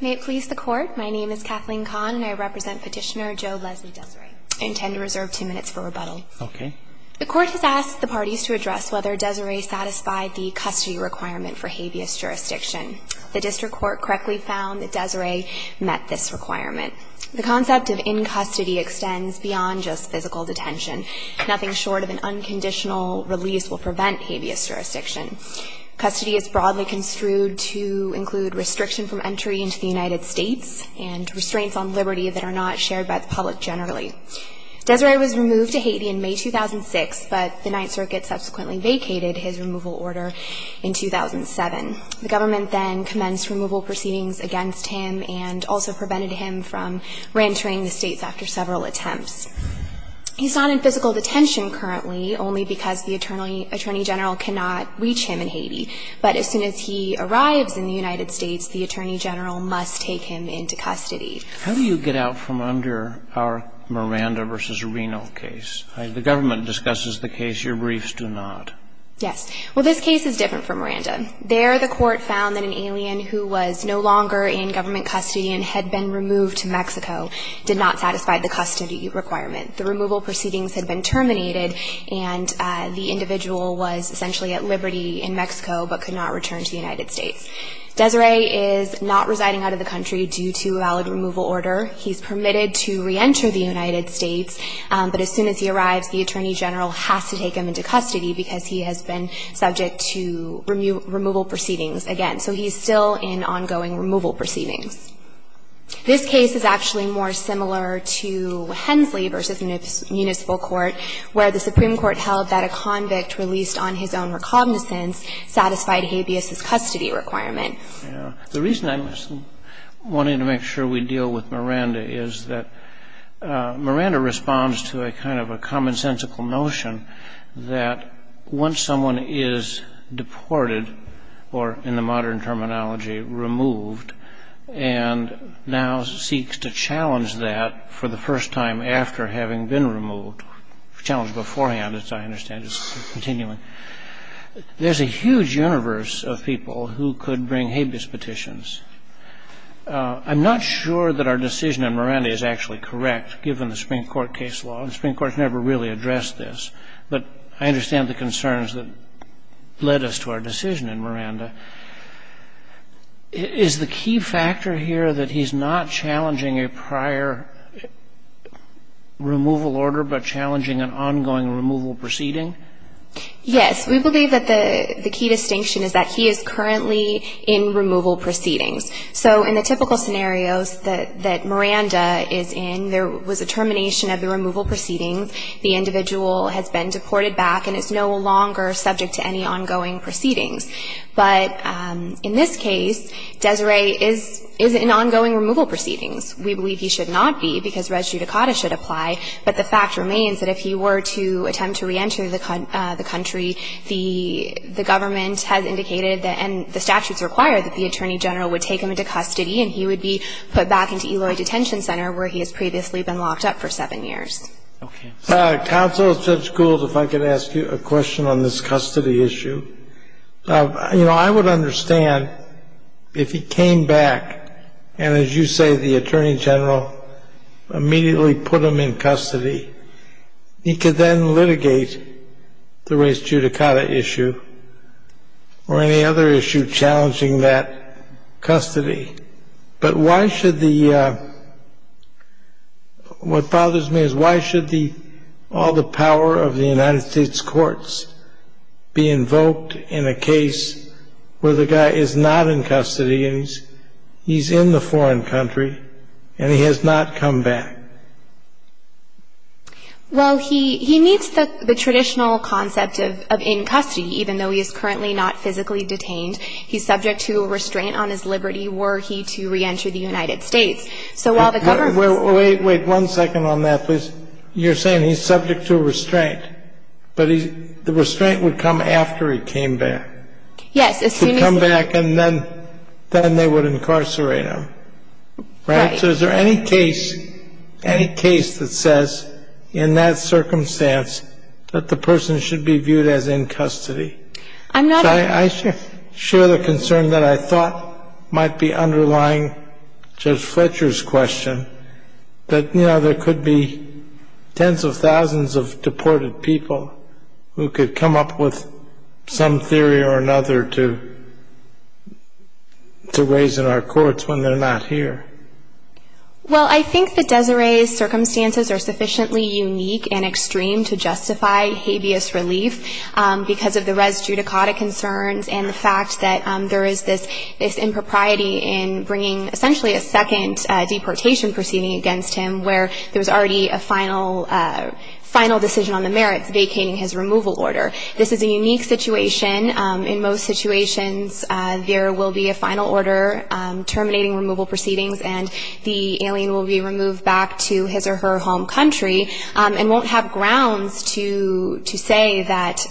May it please the Court, my name is Kathleen Kahn and I represent Petitioner Joe Leslie Desire. I intend to reserve two minutes for rebuttal. Okay. The Court has asked the parties to address whether Desire satisfied the custody requirement for habeas jurisdiction. The District Court correctly found that Desire met this requirement. The concept of in-custody extends beyond just physical detention. Nothing short of an unconditional release will prevent habeas jurisdiction. Custody is broadly construed to include restriction from entry into the United States and restraints on liberty that are not shared by the public generally. Desire was removed to Haiti in May 2006, but the Ninth Circuit subsequently vacated his removal order in 2007. The government then commenced removal proceedings against him and also prevented him from reentering the States after several attempts. He's not in physical detention currently only because the Attorney General cannot reach him in Haiti. But as soon as he arrives in the United States, the Attorney General must take him into custody. How do you get out from under our Miranda v. Reno case? The government discusses the case. Your briefs do not. Yes. Well, this case is different from Miranda. There the Court found that an alien who was no longer in government custody and had been removed to Mexico did not satisfy the custody requirement. The removal proceedings had been terminated, and the individual was essentially at liberty in Mexico but could not return to the United States. Desire is not residing out of the country due to valid removal order. He's permitted to reenter the United States, but as soon as he arrives the Attorney General has to take him into custody because he has been subject to removal proceedings again. So he's still in ongoing removal proceedings. This case is actually more similar to Hensley v. Municipal Court, where the Supreme Court held that a convict released on his own recognizance satisfied habeas' custody requirement. The reason I'm wanting to make sure we deal with Miranda is that Miranda responds to a kind of a commonsensical notion that once someone is deported, or in the modern terminology, removed, and now seeks to challenge that for the first time after having been removed, challenged beforehand, as I understand it, continuing, there's a huge universe of people who could bring habeas petitions. I'm not sure that our decision on Miranda is actually correct, given the Supreme Court case law. The Supreme Court has never really addressed this. But I understand the concerns that led us to our decision on Miranda. Is the key factor here that he's not challenging a prior removal order but challenging an ongoing removal proceeding? Yes. We believe that the key distinction is that he is currently in removal proceedings. So in the typical scenarios that Miranda is in, there was a termination of the removal proceedings. The individual has been deported back and is no longer subject to any ongoing proceedings. But in this case, Desiree is in ongoing removal proceedings. We believe he should not be, because res judicata should apply. But the fact remains that if he were to attempt to reenter the country, the government has indicated that, and the statutes require that the attorney general would take him into custody and he would be put back into Eloy Detention Center, where he has previously been locked up for seven years. Okay. Counsel, Judge Gould, if I could ask you a question on this custody issue. You know, I would understand if he came back and, as you say, the attorney general immediately put him in custody, he could then litigate the res judicata issue. Or any other issue challenging that custody. But why should the, what bothers me is why should the, all the power of the United States courts be invoked in a case where the guy is not in custody and he's in the foreign country and he has not come back? Well, he meets the traditional concept of in custody, even though he is currently not physically detained. He's subject to a restraint on his liberty were he to reenter the United States. So while the government's – Wait, wait, wait. One second on that, please. You're saying he's subject to a restraint. But the restraint would come after he came back. Yes, as soon as – He would come back and then they would incarcerate him. Right. So is there any case, any case that says in that circumstance that the person should be viewed as in custody? I'm not – I share the concern that I thought might be underlying Judge Fletcher's question, that, you know, there could be tens of thousands of deported people who could come up with some theory or another to raise in our courts when they're not here. Well, I think that Desiree's circumstances are sufficiently unique and extreme to justify habeas relief because of the res judicata concerns and the fact that there is this impropriety in bringing essentially a second deportation proceeding against him where there was already a final decision on the merits vacating his removal order. This is a unique situation. In most situations, there will be a final order terminating removal proceedings and the alien will be removed back to his or her home country and won't have grounds to say that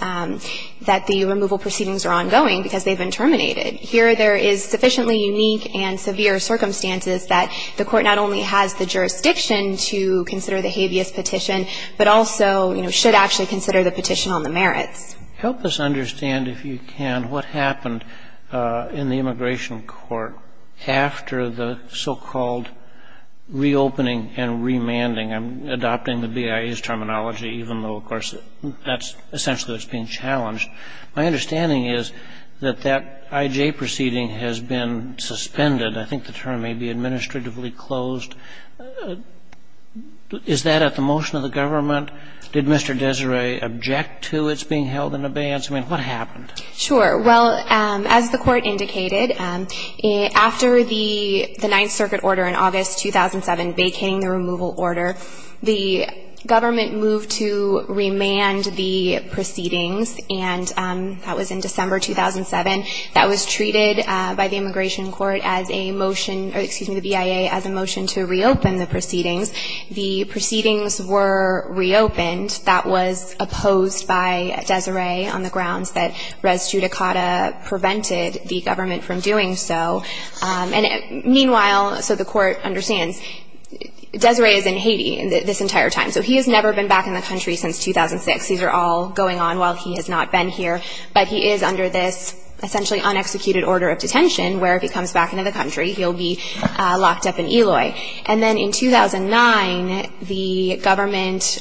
the removal proceedings are ongoing because they've been terminated. Here there is sufficiently unique and severe circumstances that the Court not only has the jurisdiction to consider the habeas petition, but also, you know, should actually consider the petition on the merits. Help us understand, if you can, what happened in the Immigration Court after the so-called reopening and remanding. I'm adopting the BIA's terminology, even though, of course, that's essentially what's being challenged. My understanding is that that IJ proceeding has been suspended. I think the term may be administratively closed. Is that at the motion of the government? Did Mr. Desiree object to its being held in abeyance? I mean, what happened? Sure. Well, as the Court indicated, after the Ninth Circuit order in August 2007 vacating the removal order, the government moved to remand the proceedings, and that was in December 2007. That was treated by the Immigration Court as a motion or, excuse me, the BIA as a motion to reopen the proceedings. The proceedings were reopened. That was opposed by Desiree on the grounds that res judicata prevented the government from doing so. And meanwhile, so the Court understands, Desiree is in Haiti this entire time, so he has never been back in the country since 2006. These are all going on while he has not been here. But he is under this essentially unexecuted order of detention, where if he comes back into the country, he'll be locked up in Eloy. And then in 2009, the government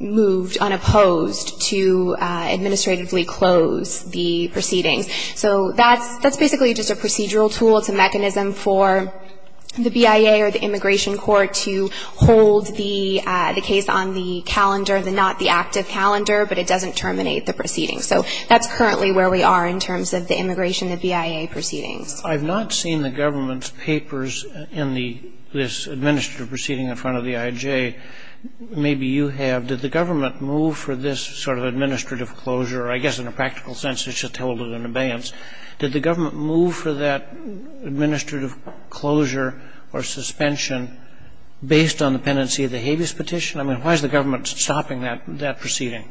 moved unopposed to administratively close the proceedings. So that's basically just a procedural tool. It's a mechanism for the BIA or the Immigration Court to hold the case on the calendar, not the active calendar, but it doesn't terminate the proceedings. So that's currently where we are in terms of the immigration, the BIA proceedings. I've not seen the government's papers in this administrative proceeding in front of the IJ. Maybe you have. Did the government move for this sort of administrative closure? I guess in a practical sense, it's just held with an abeyance. Did the government move for that administrative closure or suspension based on the pendency of the habeas petition? I mean, why is the government stopping that proceeding?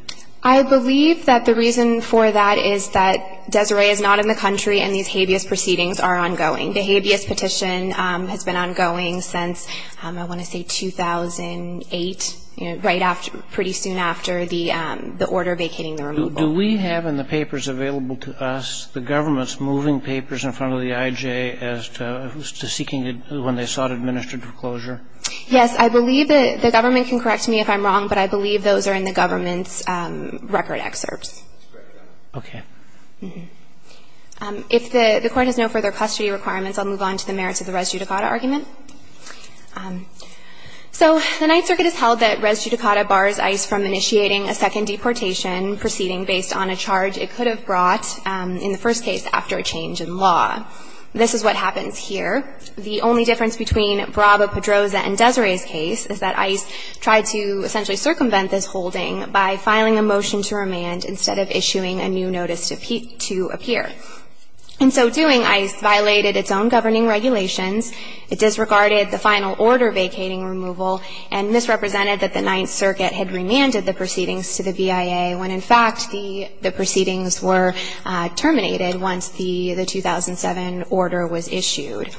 I believe that the reason for that is that Desiree is not in the country and these habeas proceedings are ongoing. The habeas petition has been ongoing since I want to say 2008, right after, pretty soon after the order vacating the removal. Do we have in the papers available to us the government's moving papers in front of the IJ as to seeking, when they sought administrative closure? Yes, I believe the government can correct me if I'm wrong, but I believe those are in the government's record excerpts. Okay. If the Court has no further custody requirements, I'll move on to the merits of the res judicata argument. So the Ninth Circuit has held that res judicata bars ICE from initiating a second deportation proceeding based on a charge it could have brought in the first case after a change in law. This is what happens here. The only difference between Brava, Pedroza, and Desiree's case is that ICE tried to essentially circumvent this holding by filing a motion to remand instead of issuing a new notice to appear. And so doing ICE violated its own governing regulations. It disregarded the final order vacating removal and misrepresented that the Ninth Circuit had remanded the proceedings to the VIA when, in fact, the proceedings were terminated once the 2007 order was issued.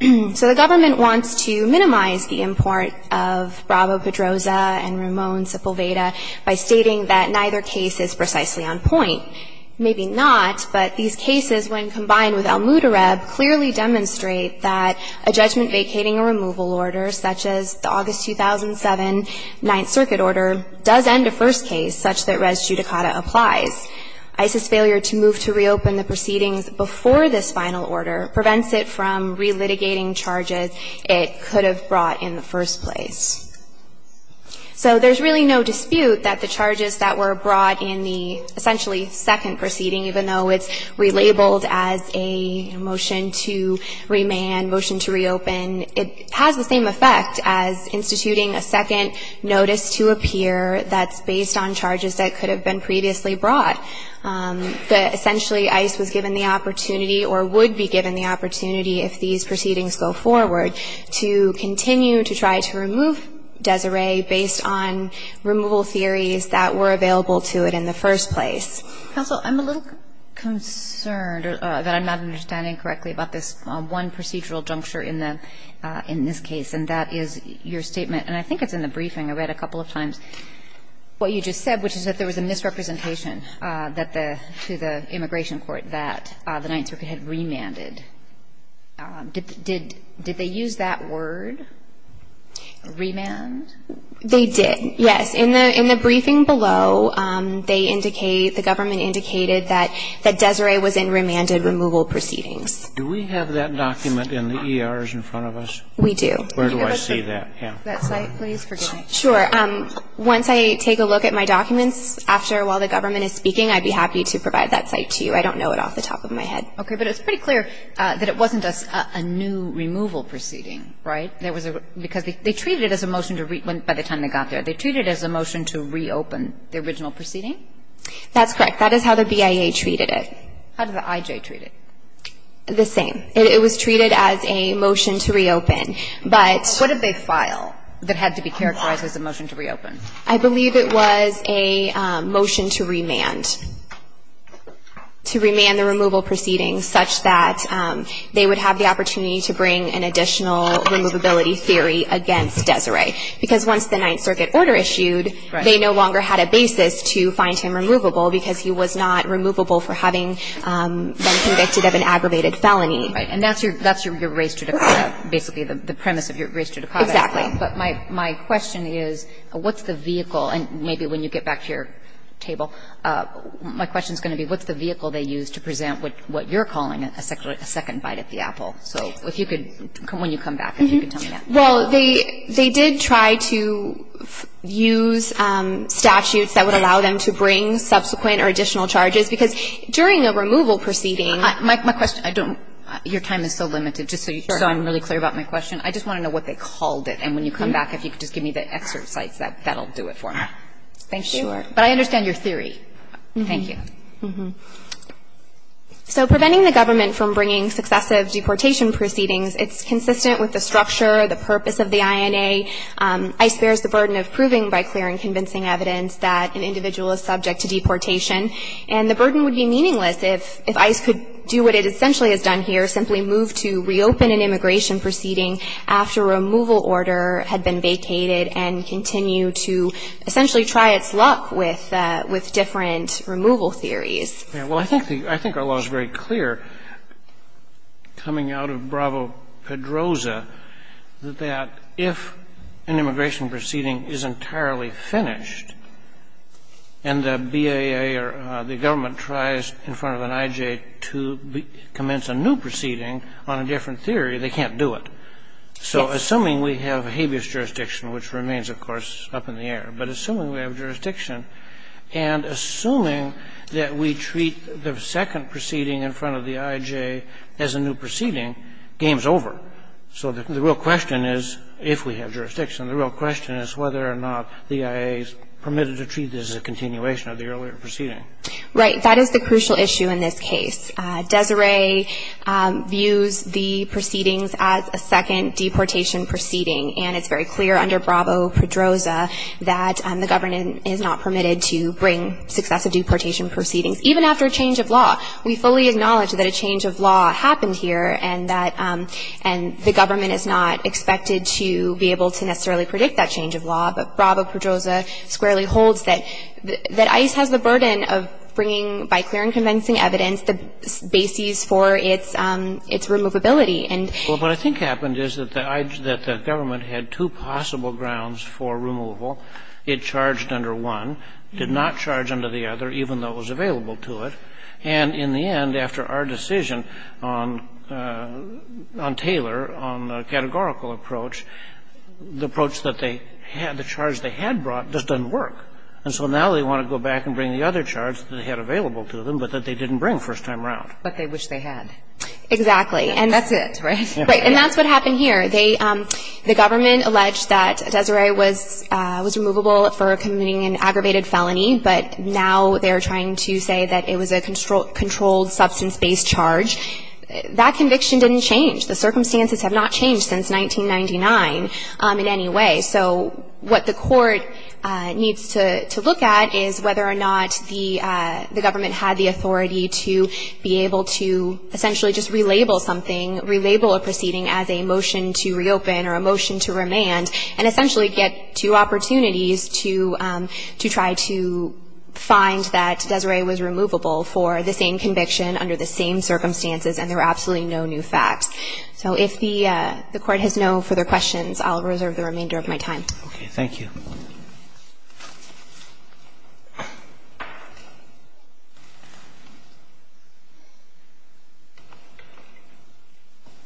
So the government wants to minimize the import of Brava, Pedroza, and Ramon, Sepulveda by stating that neither case is precisely on point. Maybe not, but these cases, when combined with Al Mutareb, clearly demonstrate that a judgment vacating a removal order such as the August 2007 Ninth Circuit order does end a first case such that res judicata applies. ICE's failure to move to reopen the proceedings before this final order prevents it from relitigating charges it could have brought in the first place. So there's really no dispute that the charges that were brought in the essentially second proceeding, even though it's relabeled as a motion to remand, motion to reopen, it has the same effect as instituting a second notice to appear that's based on charges that could have been previously brought. But essentially, ICE was given the opportunity or would be given the opportunity if these proceedings go forward to continue to try to remove Desiree based on removal theories that were available to it in the first place. Kagan. Counsel, I'm a little concerned that I'm not understanding correctly about this one procedural juncture in the, in this case, and that is your statement, and I think it's in the briefing. I read a couple of times what you just said, which is that there was a misrepresentation that the, to the immigration court, that the Ninth Circuit had remanded. Did they use that word, remand? They did, yes. In the briefing below, they indicate, the government indicated that Desiree was in remanded removal proceedings. Do we have that document in the ERs in front of us? We do. Where do I see that? That site, please. Sure. Once I take a look at my documents after, while the government is speaking, I'd be happy to provide that site to you. I don't know it off the top of my head. Okay. But it's pretty clear that it wasn't a new removal proceeding, right? There was a, because they treated it as a motion to, by the time they got there, they treated it as a motion to reopen the original proceeding? That's correct. That is how the BIA treated it. How did the IJ treat it? The same. It was treated as a motion to reopen. But. What did they file that had to be characterized as a motion to reopen? I believe it was a motion to remand. To remand the removal proceedings such that they would have the opportunity to bring an additional removability theory against Desiree. Because once the Ninth Circuit order issued, they no longer had a basis to find him removable because he was not removable for having been convicted of an aggravated felony. Right. And that's your race to, basically the premise of your race to deposit. Exactly. But my question is, what's the vehicle? And maybe when you get back to your table, my question is going to be, what's the vehicle they used to present what you're calling a second bite at the apple? So if you could, when you come back, if you could tell me that. Well, they did try to use statutes that would allow them to bring subsequent or additional charges. Because during a removal proceeding. My question, I don't. Your time is so limited, just so I'm really clear about my question. I just want to know what they called it. And when you come back, if you could just give me the excerpt sites, that will do it for me. Thank you. Sure. But I understand your theory. Thank you. So preventing the government from bringing successive deportation proceedings, it's consistent with the structure, the purpose of the INA. ICE bears the burden of proving by clear and convincing evidence that an individual is subject to deportation. And the burden would be meaningless if ICE could do what it essentially has done here, simply move to reopen an immigration proceeding after a removal order had been vacated and continue to essentially try its luck with different removal theories. Well, I think the law is very clear, coming out of Bravo-Pedroza, that if an immigration tries in front of an IJ to commence a new proceeding on a different theory, they can't do it. So assuming we have habeas jurisdiction, which remains, of course, up in the air. But assuming we have jurisdiction and assuming that we treat the second proceeding in front of the IJ as a new proceeding, game's over. So the real question is, if we have jurisdiction, the real question is whether or not the IA is permitted to treat this as a continuation of the earlier proceeding. Right. That is the crucial issue in this case. Desiree views the proceedings as a second deportation proceeding. And it's very clear under Bravo-Pedroza that the government is not permitted to bring successive deportation proceedings, even after a change of law. We fully acknowledge that a change of law happened here and that the government is not expected to be able to necessarily predict that change of law, but Bravo-Pedroza squarely holds that ICE has the burden of bringing, by clear and convincing evidence, the basis for its removability. And so what I think happened is that the government had two possible grounds for removal. It charged under one, did not charge under the other, even though it was available And in the end, after our decision on Taylor, on the categorical approach, the approach that they had, the charge they had brought, just doesn't work. And so now they want to go back and bring the other charge that they had available to them, but that they didn't bring first time around. But they wish they had. Exactly. And that's it, right? Right. And that's what happened here. They, the government alleged that Desiree was removable for committing an aggravated felony, but now they're trying to say that it was a controlled substance-based charge. That conviction didn't change. The circumstances have not changed since 1999 in any way. So what the court needs to look at is whether or not the government had the authority to be able to essentially just relabel something, relabel a proceeding as a motion to find that Desiree was removable for the same conviction under the same circumstances and there were absolutely no new facts. So if the court has no further questions, I'll reserve the remainder of my time. Okay. Thank you. Good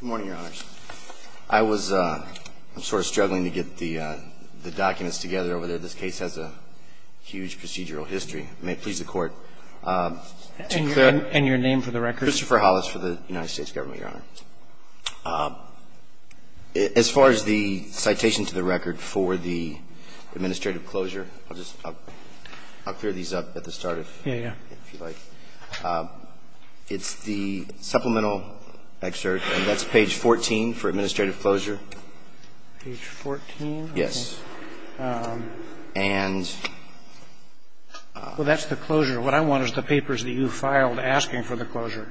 morning, Your Honors. I was, I'm sort of struggling to get the documents together over there. This case has a huge procedural history. May it please the Court. And your name for the record? Christopher Hollis for the United States Government, Your Honor. As far as the citation to the record for the administrative closure, I'll just, I'll clear these up at the start if you like. Yeah, yeah. It's the supplemental excerpt, and that's page 14 for administrative closure. Page 14? Yes. And? Well, that's the closure. What I want is the papers that you filed asking for the closure.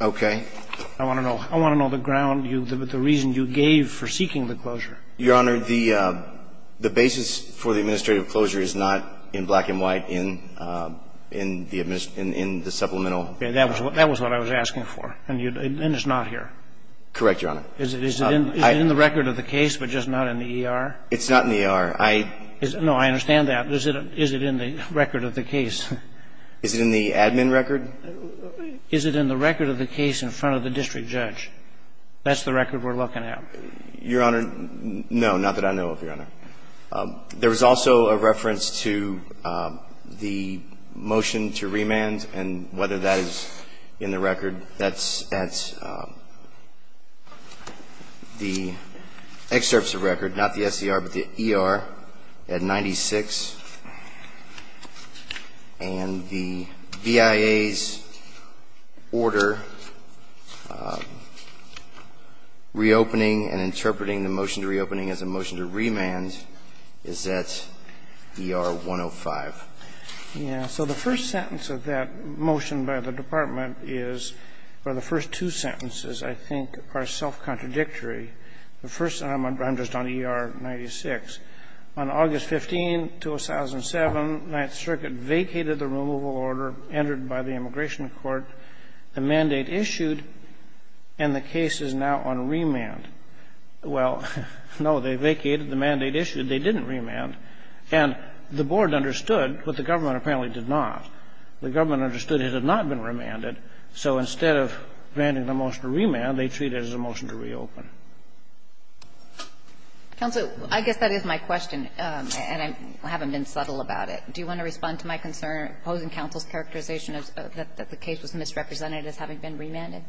Okay. I want to know the ground, the reason you gave for seeking the closure. Your Honor, the basis for the administrative closure is not in black and white, in the supplemental. Okay. That was what I was asking for. And it's not here. Correct, Your Honor. Is it in the record of the case, but just not in the ER? It's not in the ER. No, I understand that. Is it in the record of the case? Is it in the admin record? Is it in the record of the case in front of the district judge? That's the record we're looking at. Your Honor, no, not that I know of, Your Honor. There was also a reference to the motion to remand and whether that is in the record. That's at the excerpts of record, not the SER, but the ER at 96. And the VIA's order reopening and interpreting the motion to reopening as a motion to remand is at ER 105. Yeah. So the first sentence of that motion by the Department is, or the first two sentences, I think, are self-contradictory. The first one, I'm just on ER 96. On August 15, 2007, Ninth Circuit vacated the removal order entered by the immigration court, the mandate issued, and the case is now on remand. Well, no, they vacated the mandate issued. They didn't remand. And the board understood, but the government apparently did not. The government understood it had not been remanded. So instead of granting the motion to remand, they treat it as a motion to reopen. Counsel, I guess that is my question, and I haven't been subtle about it. Do you want to respond to my concern, opposing counsel's characterization that the case was misrepresented as having been remanded?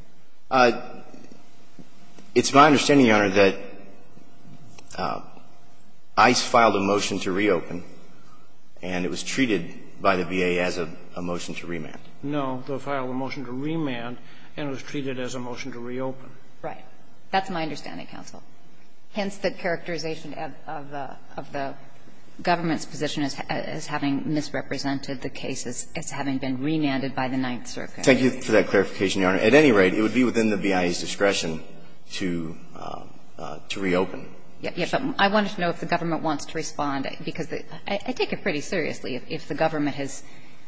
It's my understanding, Your Honor, that ICE filed a motion to reopen, and it was treated by the VA as a motion to remand. No, they filed a motion to remand, and it was treated as a motion to reopen. Right. That's my understanding, counsel. Hence the characterization of the government's position as having misrepresented the case as having been remanded by the Ninth Circuit. Thank you for that clarification, Your Honor. At any rate, it would be within the VA's discretion to reopen. Yes. I wanted to know if the government wants to respond, because I take it pretty seriously. If the government has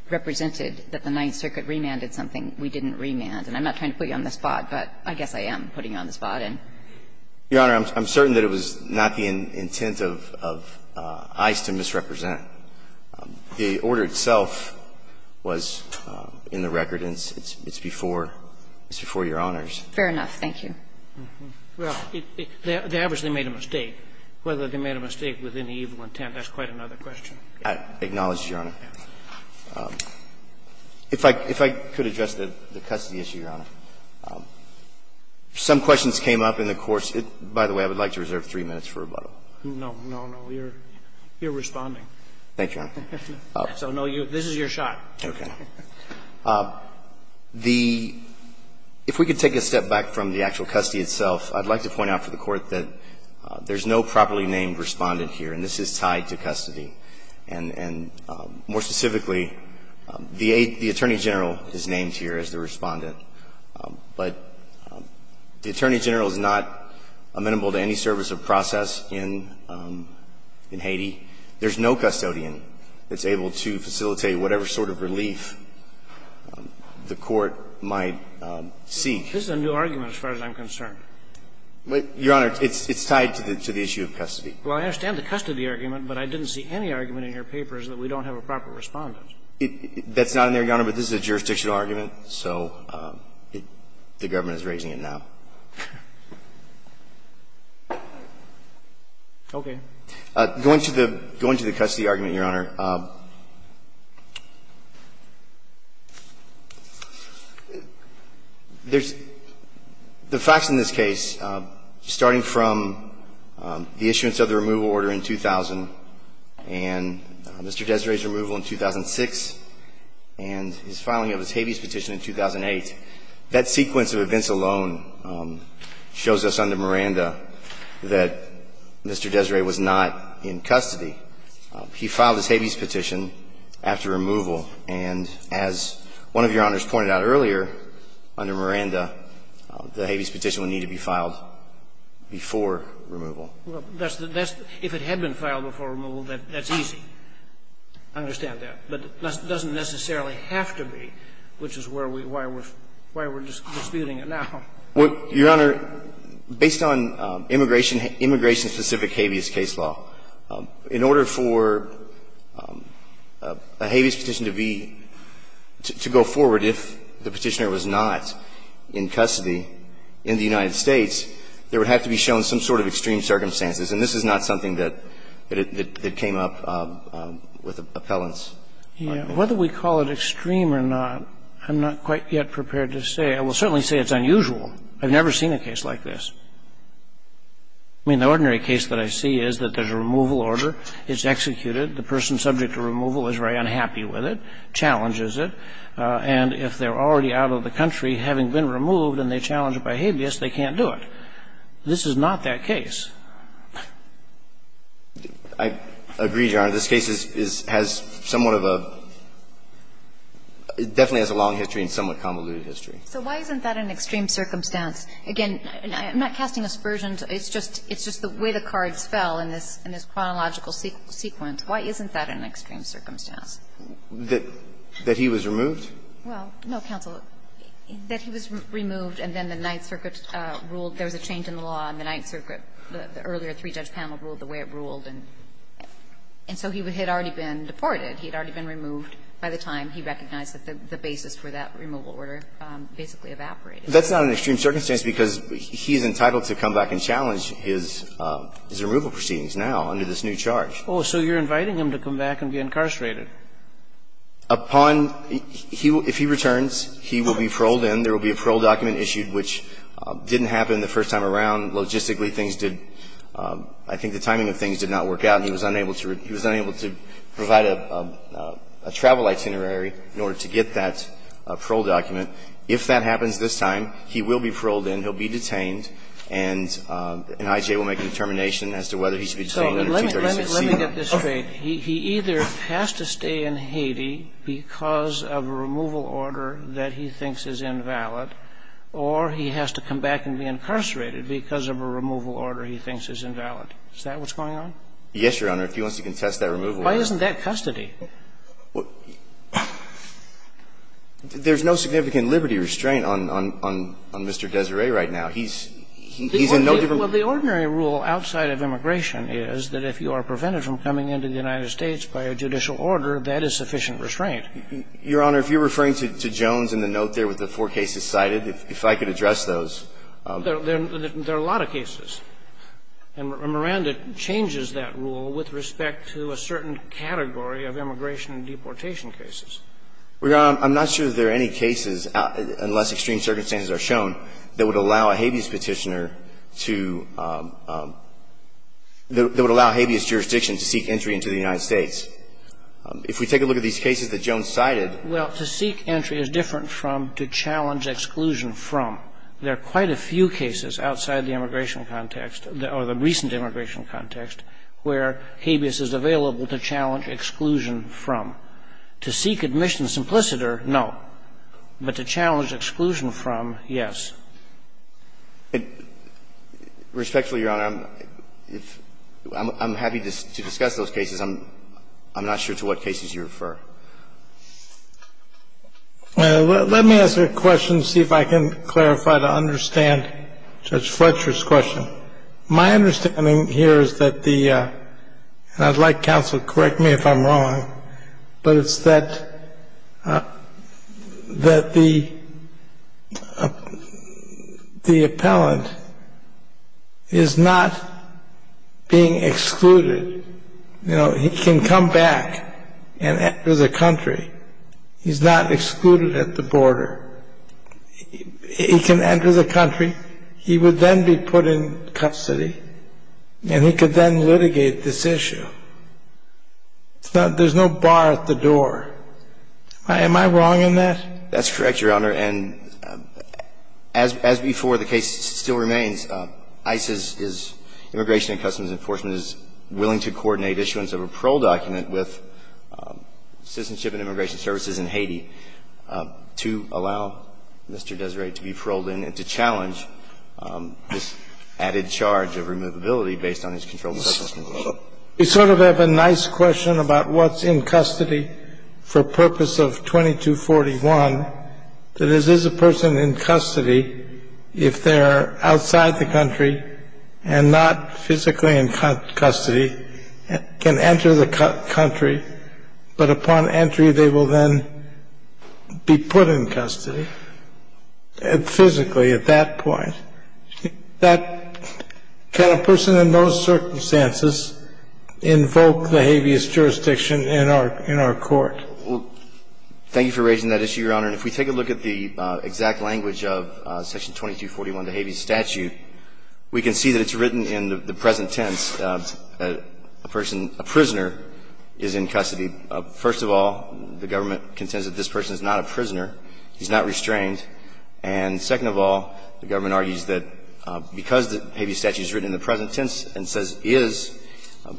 represented that the Ninth Circuit remanded something we didn't remand. And I'm not trying to put you on the spot, but I guess I am putting you on the spot. Your Honor, I'm certain that it was not the intent of ICE to misrepresent. The order itself was in the record, and it's before your honors. Fair enough. Thank you. Well, the average they made a mistake. Whether they made a mistake with any evil intent, that's quite another question. I acknowledge, Your Honor. If I could address the custody issue, Your Honor. Some questions came up in the course. By the way, I would like to reserve three minutes for rebuttal. No, no, no. You're responding. Thank you, Your Honor. This is your shot. Okay. The – if we could take a step back from the actual custody itself, I'd like to point out for the Court that there's no properly named respondent here, and this is tied to custody. And more specifically, the Attorney General is named here as the respondent. But the Attorney General is not amenable to any service of process in Haiti. There's no custodian that's able to facilitate whatever sort of relief the Court might seek. This is a new argument as far as I'm concerned. Your Honor, it's tied to the issue of custody. Well, I understand the custody argument, but I didn't see any argument in your papers that we don't have a proper respondent. That's not in there, Your Honor, but this is a jurisdictional argument, so the government is raising it now. Okay. Going to the – going to the custody argument, Your Honor, there's – the facts in this case, starting from the issuance of the removal order in 2000 and Mr. Desiree's removal in 2006 and his filing of his habeas petition in 2008, that sequence of events alone shows us under Miranda that Mr. Desiree was not in custody. He filed his habeas petition after removal. And as one of Your Honors pointed out earlier, under Miranda, the habeas petition would need to be filed before removal. Well, that's – if it had been filed before removal, that's easy. I understand that. But it doesn't necessarily have to be, which is where we – why we're – why we're disputing it now. Your Honor, based on immigration – immigration-specific habeas case law, in order for a habeas petition to be – to go forward if the Petitioner was not in custody in the United States, there would have to be shown some sort of extreme circumstances. And this is not something that – that came up with appellants. Yes. Whether we call it extreme or not, I'm not quite yet prepared to say. I will certainly say it's unusual. I've never seen a case like this. I mean, the ordinary case that I see is that there's a removal order. It's executed. The person subject to removal is very unhappy with it, challenges it. And if they're already out of the country having been removed and they challenge it by habeas, they can't do it. This is not that case. I agree, Your Honor. This case is – has somewhat of a – definitely has a long history and somewhat convoluted history. So why isn't that an extreme circumstance? Again, I'm not casting aspersions. It's just – it's just the way the cards fell in this – in this chronological sequence. Why isn't that an extreme circumstance? That he was removed? Well, no, counsel. That he was removed and then the Ninth Circuit ruled there was a change in the law and the Ninth Circuit, the earlier three-judge panel, ruled the way it ruled. And so he had already been deported. He had already been removed by the time he recognized that the basis for that removal order basically evaporated. That's not an extreme circumstance because he is entitled to come back and challenge his – his removal proceedings now under this new charge. Oh, so you're inviting him to come back and be incarcerated. Upon – if he returns, he will be paroled in. There will be a parole document issued, which didn't happen the first time around. Logistically, things did – I think the timing of things did not work out and he was unable to – he was unable to provide a travel itinerary in order to get that parole document. If that happens this time, he will be paroled in, he'll be detained, and I.J. will make a determination as to whether he should be detained under 236C. So let me get this straight. He either has to stay in Haiti because of a removal order that he thinks is invalid or he has to come back and be incarcerated because of a removal order he thinks is invalid. Is that what's going on? Yes, Your Honor, if he wants to contest that removal order. Why isn't that custody? There's no significant liberty restraint on – on Mr. Desiree right now. He's – he's in no different – Well, the ordinary rule outside of immigration is that if you are prevented from coming into the United States by a judicial order, that is sufficient restraint. Your Honor, if you're referring to Jones in the note there with the four cases cited, if I could address those. There are a lot of cases. And Miranda changes that rule with respect to a certain category of immigration and deportation cases. Well, Your Honor, I'm not sure there are any cases, unless extreme circumstances are shown, that would allow a habeas Petitioner to – that would allow habeas jurisdiction to seek entry into the United States. If we take a look at these cases that Jones cited – Well, to seek entry is different from to challenge exclusion from. There are quite a few cases outside the immigration context, or the recent immigration context, where habeas is available to challenge exclusion from. To seek admission simpliciter, no. But to challenge exclusion from, yes. Respectfully, Your Honor, I'm – I'm happy to discuss those cases. I'm not sure to what cases you refer. Let me ask a question, see if I can clarify to understand Judge Fletcher's question. My understanding here is that the – and I'd like counsel to correct me if I'm wrong, but it's that – that the – the appellant is not being excluded. You know, he can come back and enter the country. He's not excluded at the border. He can enter the country. He would then be put in custody, and he could then litigate this issue. There's no bar at the door. Am I wrong in that? That's correct, Your Honor. And as – as before, the case still remains. ICE's – Immigration and Customs Enforcement is willing to coordinate issuance of a parole document with Citizenship and Immigration Services in Haiti to allow Mr. Desiree to be paroled in and to challenge this added charge of removability based on his control of the Customs Enforcement. We sort of have a nice question about what's in custody for purpose of 2241. That is, is a person in custody if they're outside the country and not physically in custody, can enter the country, but upon entry they will then be put in custody, physically at that point. That – can a person in those circumstances invoke the habeas jurisdiction in our – in our court? Thank you for raising that issue, Your Honor. And if we take a look at the exact language of Section 2241, the habeas statute, we can see that it's written in the present tense. A person – a prisoner is in custody. First of all, the government contends that this person is not a prisoner. He's not restrained. And second of all, the government argues that because the habeas statute is written in the present tense and says is,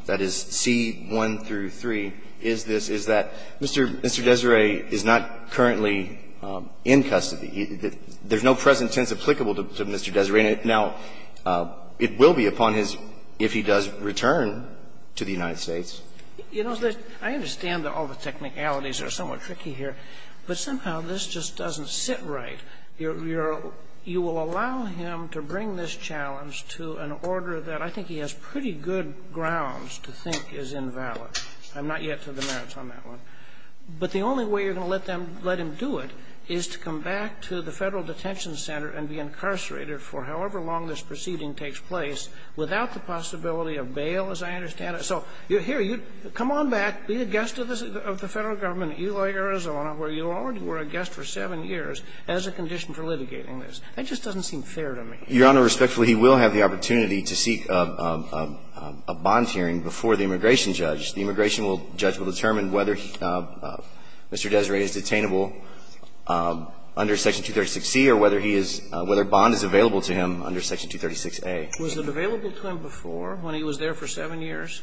that is, C1 through 3, is this, is that Mr. Desiree is not currently in custody. There's no present tense applicable to Mr. Desiree. Now, it will be upon his if he does return to the United States. You know, I understand that all the technicalities are somewhat tricky here, but somehow this just doesn't sit right. You're – you will allow him to bring this challenge to an order that I think he has pretty good grounds to think is invalid. I'm not yet to the merits on that one. But the only way you're going to let them – let him do it is to come back to the Federal Detention Center and be incarcerated for however long this proceeding takes place without the possibility of bail, as I understand it. So here, you – come on back. Be the guest of the Federal Government in Ely, Arizona, where you already were a guest for 7 years as a condition for litigating this. That just doesn't seem fair to me. Your Honor, respectfully, he will have the opportunity to seek a bond hearing before the immigration judge. The immigration judge will determine whether Mr. Desiree is detainable under Section 236C or whether he is – whether a bond is available to him under Section 236A. Was it available to him before, when he was there for 7 years?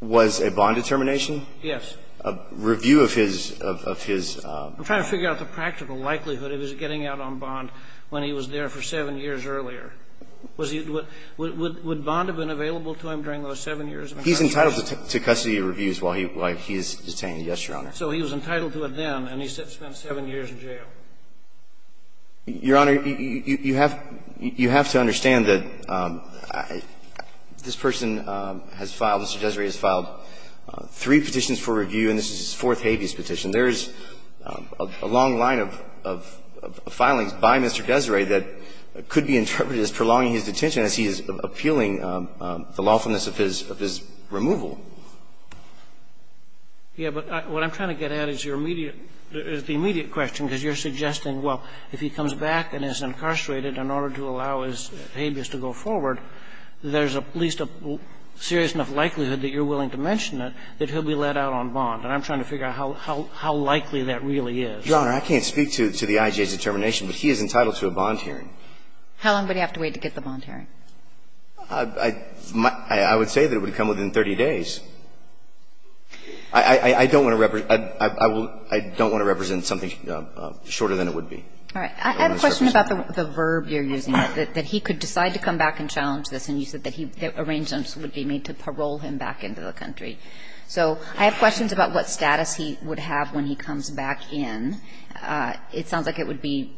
Was a bond determination? Yes. A review of his – of his – I'm trying to figure out the practical likelihood of his getting out on bond when he was there for 7 years earlier. Was he – would bond have been available to him during those 7 years of incarceration? He's entitled to custody reviews while he – while he is detained, yes, Your Honor. Your Honor, you have – you have to understand that this person has filed – Mr. Desiree has filed three petitions for review, and this is his fourth habeas petition. There is a long line of – of filings by Mr. Desiree that could be interpreted as prolonging his detention as he is appealing the lawfulness of his – of his removal. Yeah, but what I'm trying to get at is your immediate – is the immediate question, because you're suggesting, well, if he comes back and is incarcerated in order to allow his habeas to go forward, there's at least a serious enough likelihood that you're willing to mention it, that he'll be let out on bond. And I'm trying to figure out how – how likely that really is. Your Honor, I can't speak to the IJ's determination, but he is entitled to a bond hearing. How long would he have to wait to get the bond hearing? I would say that it would come within 30 days. I don't want to represent – I will – I don't want to represent something shorter than it would be. All right. I have a question about the verb you're using, that he could decide to come back and challenge this, and you said that he – that arrangements would be made to parole him back into the country. So I have questions about what status he would have when he comes back in. It sounds like it would be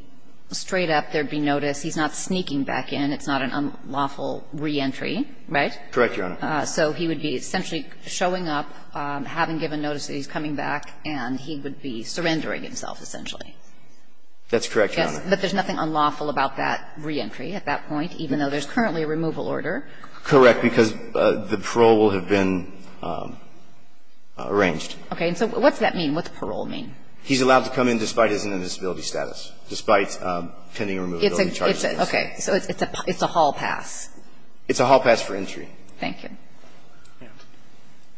straight up there would be notice he's not sneaking back in. It's not an unlawful reentry, right? Correct, Your Honor. So he would be essentially showing up, having given notice that he's coming back, and he would be surrendering himself, essentially. That's correct, Your Honor. But there's nothing unlawful about that reentry at that point, even though there's currently a removal order. Correct, because the parole will have been arranged. Okay. And so what's that mean? What's parole mean? He's allowed to come in despite his indisability status, despite pending removal. It's a – it's a – okay. So it's a hall pass. It's a hall pass for entry. Thank you.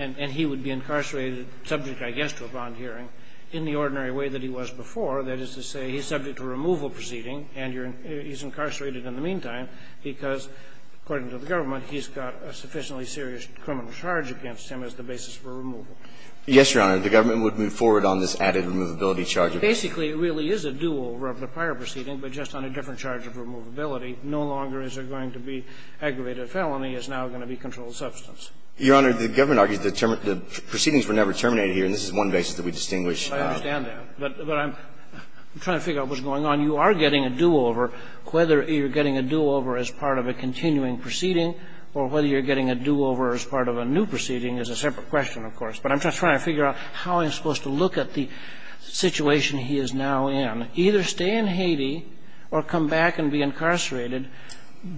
And he would be incarcerated subject, I guess, to a bond hearing in the ordinary way that he was before, that is to say, he's subject to a removal proceeding and you're – he's incarcerated in the meantime because, according to the government, he's got a sufficiently serious criminal charge against him as the basis for removal. Yes, Your Honor. The government would move forward on this added removability charge. Basically, it really is a do-over of the prior proceeding, but just on a different charge of removability. No longer is there going to be aggravated felony. It's now going to be controlled substance. Your Honor, the government argues that the proceedings were never terminated here, and this is one basis that we distinguish. I understand that. But I'm trying to figure out what's going on. You are getting a do-over. Whether you're getting a do-over as part of a continuing proceeding or whether you're getting a do-over as part of a new proceeding is a separate question, of course. But I'm just trying to figure out how I'm supposed to look at the situation he is now in. Either stay in Haiti or come back and be incarcerated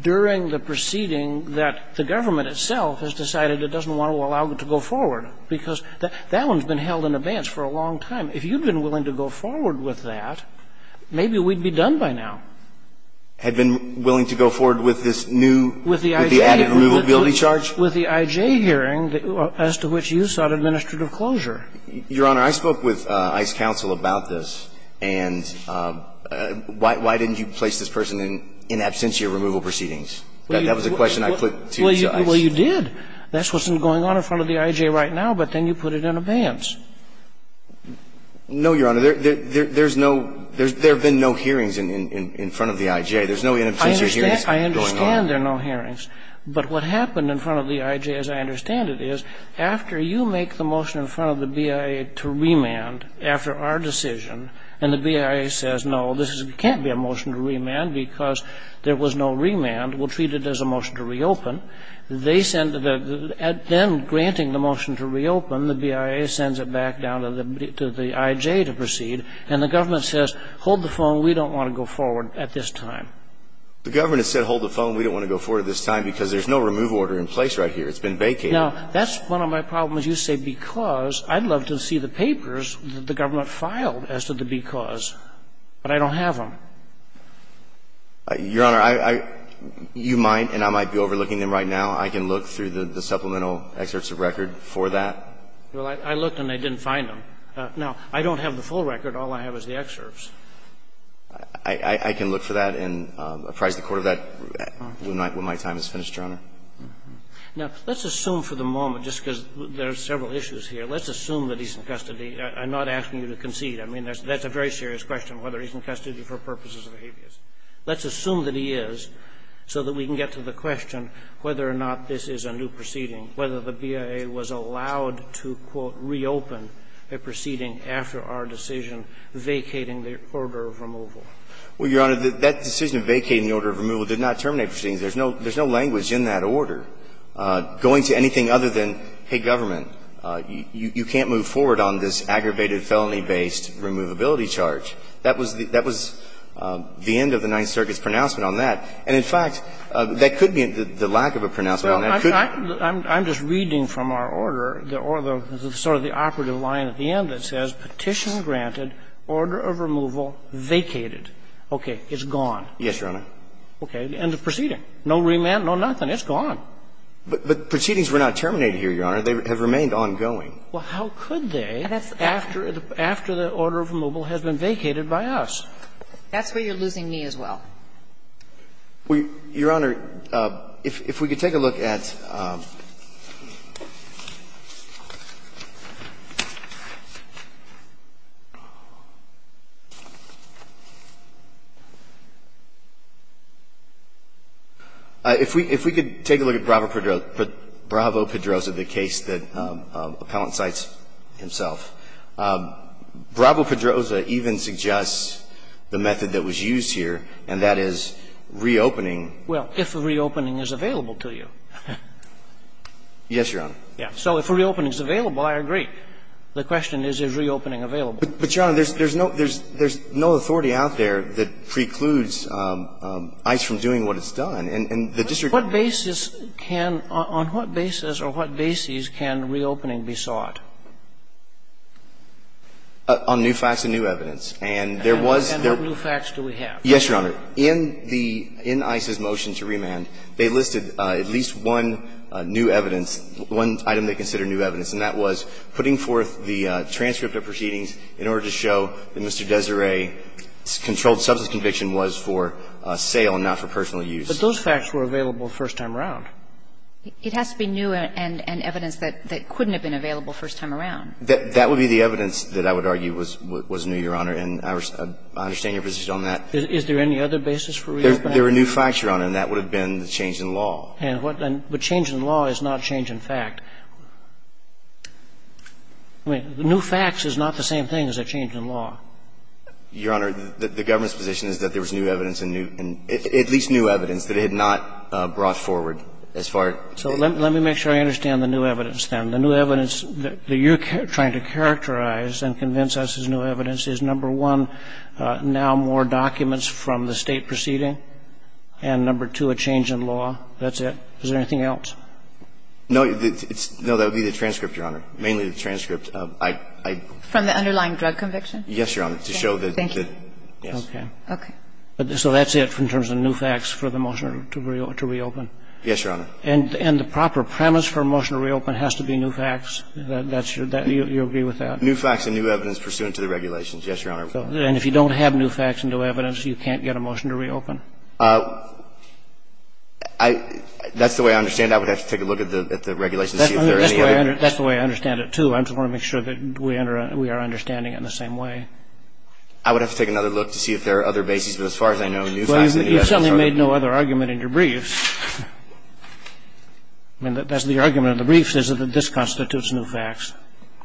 during the proceeding that the government itself has decided it doesn't want to allow him to go forward, because that one's been held in abeyance for a long time. If you'd been willing to go forward with that, maybe we'd be done by now. Had been willing to go forward with this new – With the IJ. With the added removability charge. With the IJ hearing as to which you sought administrative closure. Your Honor, I spoke with ICE counsel about this. And why didn't you place this person in absentia removal proceedings? That was a question I put to ICE. Well, you did. That's what's going on in front of the IJ right now, but then you put it in abeyance. No, Your Honor. There's no – there have been no hearings in front of the IJ. There's no in-absentia hearings going on. I understand there are no hearings. But what happened in front of the IJ, as I understand it, is after you make the motion in front of the BIA to remand after our decision, and the BIA says, no, this can't be a motion to remand because there was no remand, we'll treat it as a motion to reopen. They send – then granting the motion to reopen, the BIA sends it back down to the IJ to proceed, and the government says, hold the phone, we don't want to go forward at this time. The government has said, hold the phone, we don't want to go forward at this time because there's no remove order in place right here. It's been vacated. Now, that's one of my problems. You say because. I'd love to see the papers that the government filed as to the because, but I don't have them. Your Honor, I – you might and I might be overlooking them right now. I can look through the supplemental excerpts of record for that. Well, I looked and I didn't find them. Now, I don't have the full record. All I have is the excerpts. I can look for that and apprise the Court of that when my time is finished, Your Honor. Now, let's assume for the moment, just because there are several issues here, let's assume that he's in custody. I'm not asking you to concede. I mean, that's a very serious question, whether he's in custody for purposes of habeas. Let's assume that he is so that we can get to the question whether or not this is a new proceeding, whether the BIA was allowed to, quote, reopen a proceeding after our decision vacating the order of removal. Well, Your Honor, that decision vacating the order of removal did not terminate proceedings. There's no language in that order going to anything other than, hey, government, you can't move forward on this aggravated felony-based removability charge. That was the end of the Ninth Circuit's pronouncement on that. And, in fact, that could be the lack of a pronouncement on that. Well, I'm just reading from our order, the sort of the operative line at the end that says, Petition granted, order of removal vacated. Okay. It's gone. Yes, Your Honor. Okay. End of proceeding. No remand, no nothing. It's gone. But proceedings were not terminated here, Your Honor. They have remained ongoing. Well, how could they after the order of removal has been vacated by us? That's where you're losing me as well. Your Honor, if we could take a look at – if we could take a look at Bravo-Pedroza, the case that Appellant cites himself. Bravo-Pedroza even suggests the method that was used here, and that is reopening. Well, if a reopening is available to you. Yes, Your Honor. Yes. So if a reopening is available, I agree. The question is, is reopening available? But, Your Honor, there's no authority out there that precludes ICE from doing what it's done. And the district – What basis can – on what basis or what bases can reopening be sought? On new facts and new evidence. And there was – And what new facts do we have? Yes, Your Honor. In the – in ICE's motion to remand, they listed at least one new evidence, one item they consider new evidence, and that was putting forth the transcript of proceedings in order to show that Mr. Desiree's controlled substance conviction was for sale and not for personal use. But those facts were available first time around. It has to be new and evidence that couldn't have been available first time around. That would be the evidence that I would argue was new, Your Honor. And I understand your position on that. Is there any other basis for reopening? There were new facts, Your Honor, and that would have been the change in law. And what – but change in law is not change in fact. I mean, new facts is not the same thing as a change in law. Your Honor, the government's position is that there was new evidence and new – at least new evidence that it had not brought forward as far as – So let me make sure I understand the new evidence, then. The new evidence that you're trying to characterize and convince us is new evidence is, number one, now more documents from the State proceeding, and, number two, a change in law. That's it. Is there anything else? No, it's – no, that would be the transcript, Your Honor, mainly the transcript. I – I – From the underlying drug conviction? Yes, Your Honor, to show that – Thank you. Okay. Okay. So that's it in terms of new facts for the motion to reopen? Yes, Your Honor. And the proper premise for a motion to reopen has to be new facts? That's your – you agree with that? New facts and new evidence pursuant to the regulations, yes, Your Honor. And if you don't have new facts and new evidence, you can't get a motion to reopen? I – that's the way I understand it. I would have to take a look at the regulations to see if there are any other – That's the way I understand it, too. I just want to make sure that we are understanding it in the same way. I would have to take another look to see if there are other bases. But as far as I know, new facts and new evidence are the same. Well, you've certainly made no other argument in your briefs. I mean, that's the argument of the briefs is that this constitutes new facts.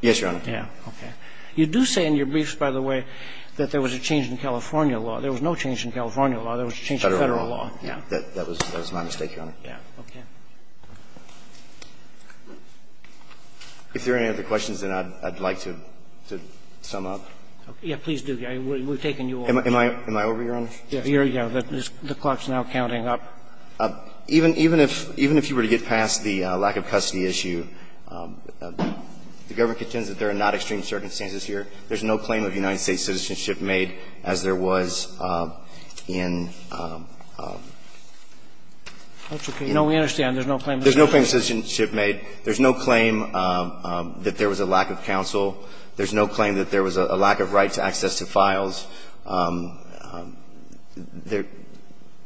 Yes, Your Honor. Yeah. Okay. You do say in your briefs, by the way, that there was a change in California law. There was no change in California law. There was a change in Federal law. Federal law. Yeah. That was my mistake, Your Honor. Yeah. Okay. If there are any other questions, then I'd like to sum up. Yeah, please do. We've taken you over. Am I over, Your Honor? Yeah. The clock's now counting up. Even if you were to get past the lack of custody issue, the government contends that there are not extreme circumstances here. There's no claim of United States citizenship made, as there was in – That's okay. No, we understand. There's no claim of citizenship. There's no claim of citizenship made. There's no claim that there was a lack of counsel. There's no claim that there was a lack of right to access to files.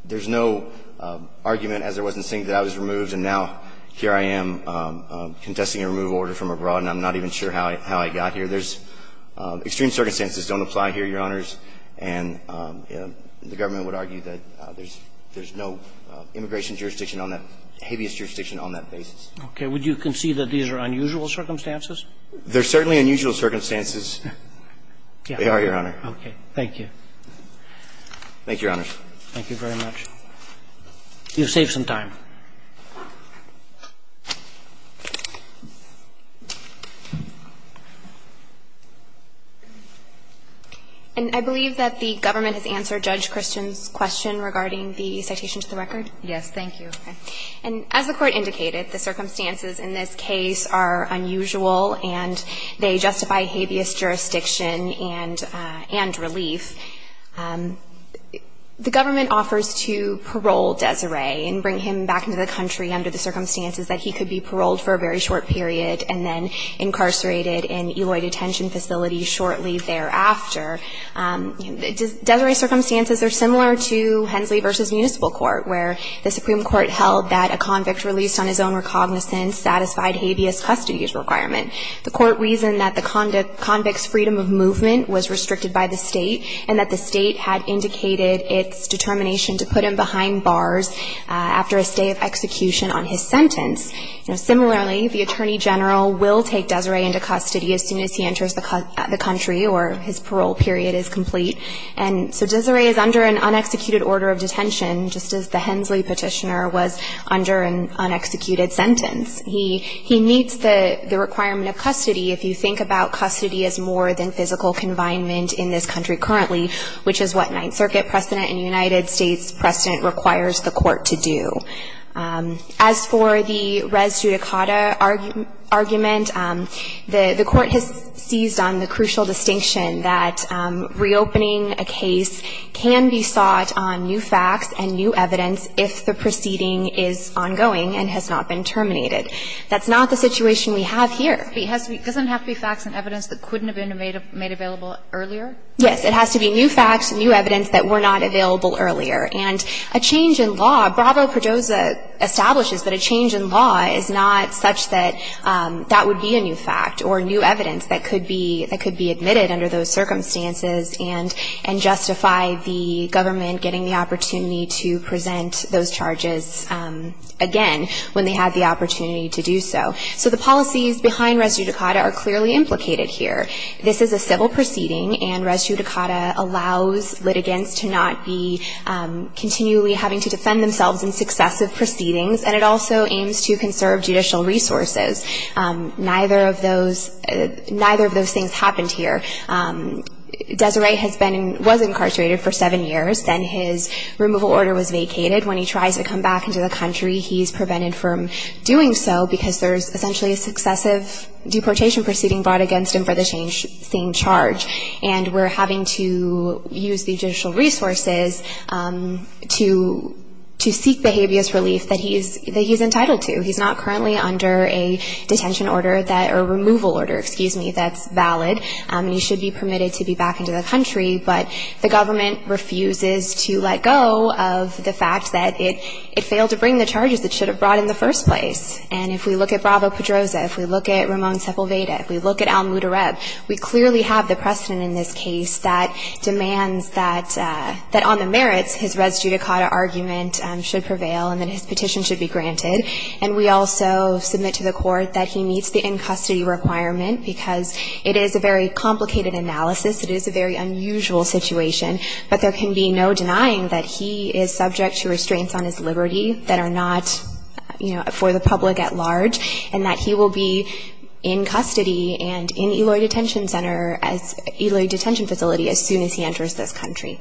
There's no argument, as there was in Sink, that I was removed and now here I am contesting a removal order from abroad and I'm not even sure how I got here. There's extreme circumstances don't apply here, Your Honors, and the government would argue that there's no immigration jurisdiction on that, habeas jurisdiction on that basis. Would you concede that these are unusual circumstances? They're certainly unusual circumstances. They are, Your Honor. Okay. Thank you. Thank you, Your Honors. Thank you very much. You've saved some time. And I believe that the government has answered Judge Christian's question regarding the citation to the record? Thank you. And as the Court indicated, the circumstances in this case are unusual and they justify habeas jurisdiction and relief. The government offers to parole Desiree and bring him back into the country under the circumstances that he could be paroled for a very short period and then incarcerated in Eloy detention facilities shortly thereafter. Desiree's circumstances are similar to Hensley v. Municipal Court, where the Supreme Court held that a convict released on his own recognizance satisfied habeas custody's requirement. The Court reasoned that the convict's freedom of movement was restricted by the state and that the state had indicated its determination to put him behind bars after a stay of execution on his sentence. Similarly, the Attorney General will take Desiree into custody as soon as he enters the country or his parole period is complete. And so Desiree is under an unexecuted order of detention, just as the Hensley petitioner was under an unexecuted sentence. He meets the requirement of custody if you think about custody as more than physical confinement in this country currently, which is what Ninth Circuit precedent and United States precedent requires the Court to do. As for the res judicata argument, the Court has seized on the crucial distinction that reopening a case can be sought on new facts and new evidence if the proceeding is ongoing and has not been terminated. That's not the situation we have here. It doesn't have to be facts and evidence that couldn't have been made available earlier? Yes. It has to be new facts, new evidence that were not available earlier. And a change in law, Bravo-Perdosa establishes that a change in law is not such that that would be a new fact or new evidence that could be admitted under those circumstances and justify the government getting the opportunity to present those charges again when they had the opportunity to do so. So the policies behind res judicata are clearly implicated here. This is a civil proceeding, and res judicata allows litigants to not be continually having to defend themselves in successive proceedings, and it also aims to conserve judicial resources. Neither of those things happened here. Desiree was incarcerated for seven years. Then his removal order was vacated. When he tries to come back into the country, he's prevented from doing so because there's essentially a successive deportation proceeding brought against him for the same charge. And we're having to use the judicial resources to seek behaviorist relief that he's entitled to. He's not currently under a detention order that or removal order, excuse me, that's valid, and he should be permitted to be back into the country. But the government refuses to let go of the fact that it failed to bring the charges it should have brought in the first place. And if we look at Bravo-Pedrosa, if we look at Ramon Sepulveda, if we look at Al Mutareb, we clearly have the precedent in this case that demands that on the merits, his res judicata argument should prevail and that his petition should be granted. And we also submit to the Court that he meets the in-custody requirement because it is a very complicated analysis. It is a very unusual situation. But there can be no denying that he is subject to restraints on his liberty that are not, you know, for the public at large, and that he will be in custody and in Eloy Detention Center as Eloy Detention Facility as soon as he enters this country.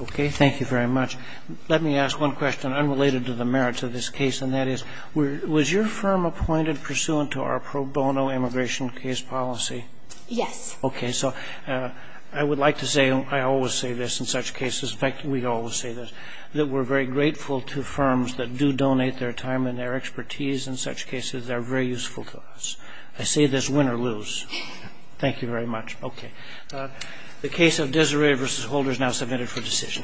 Okay. Thank you very much. Let me ask one question unrelated to the merits of this case, and that is, was your firm appointed pursuant to our pro bono immigration case policy? Yes. Okay. So I would like to say I always say this in such cases. In fact, we always say this, that we're very grateful to firms that do donate their time and their expertise in such cases. They're very useful to us. I say this win or lose. Thank you very much. Okay. The case of Desiree v. Holder is now submitted for decision. Thank you. Thank you. Thank you. All right. Mr. Ward, for this session, it stands adjourned.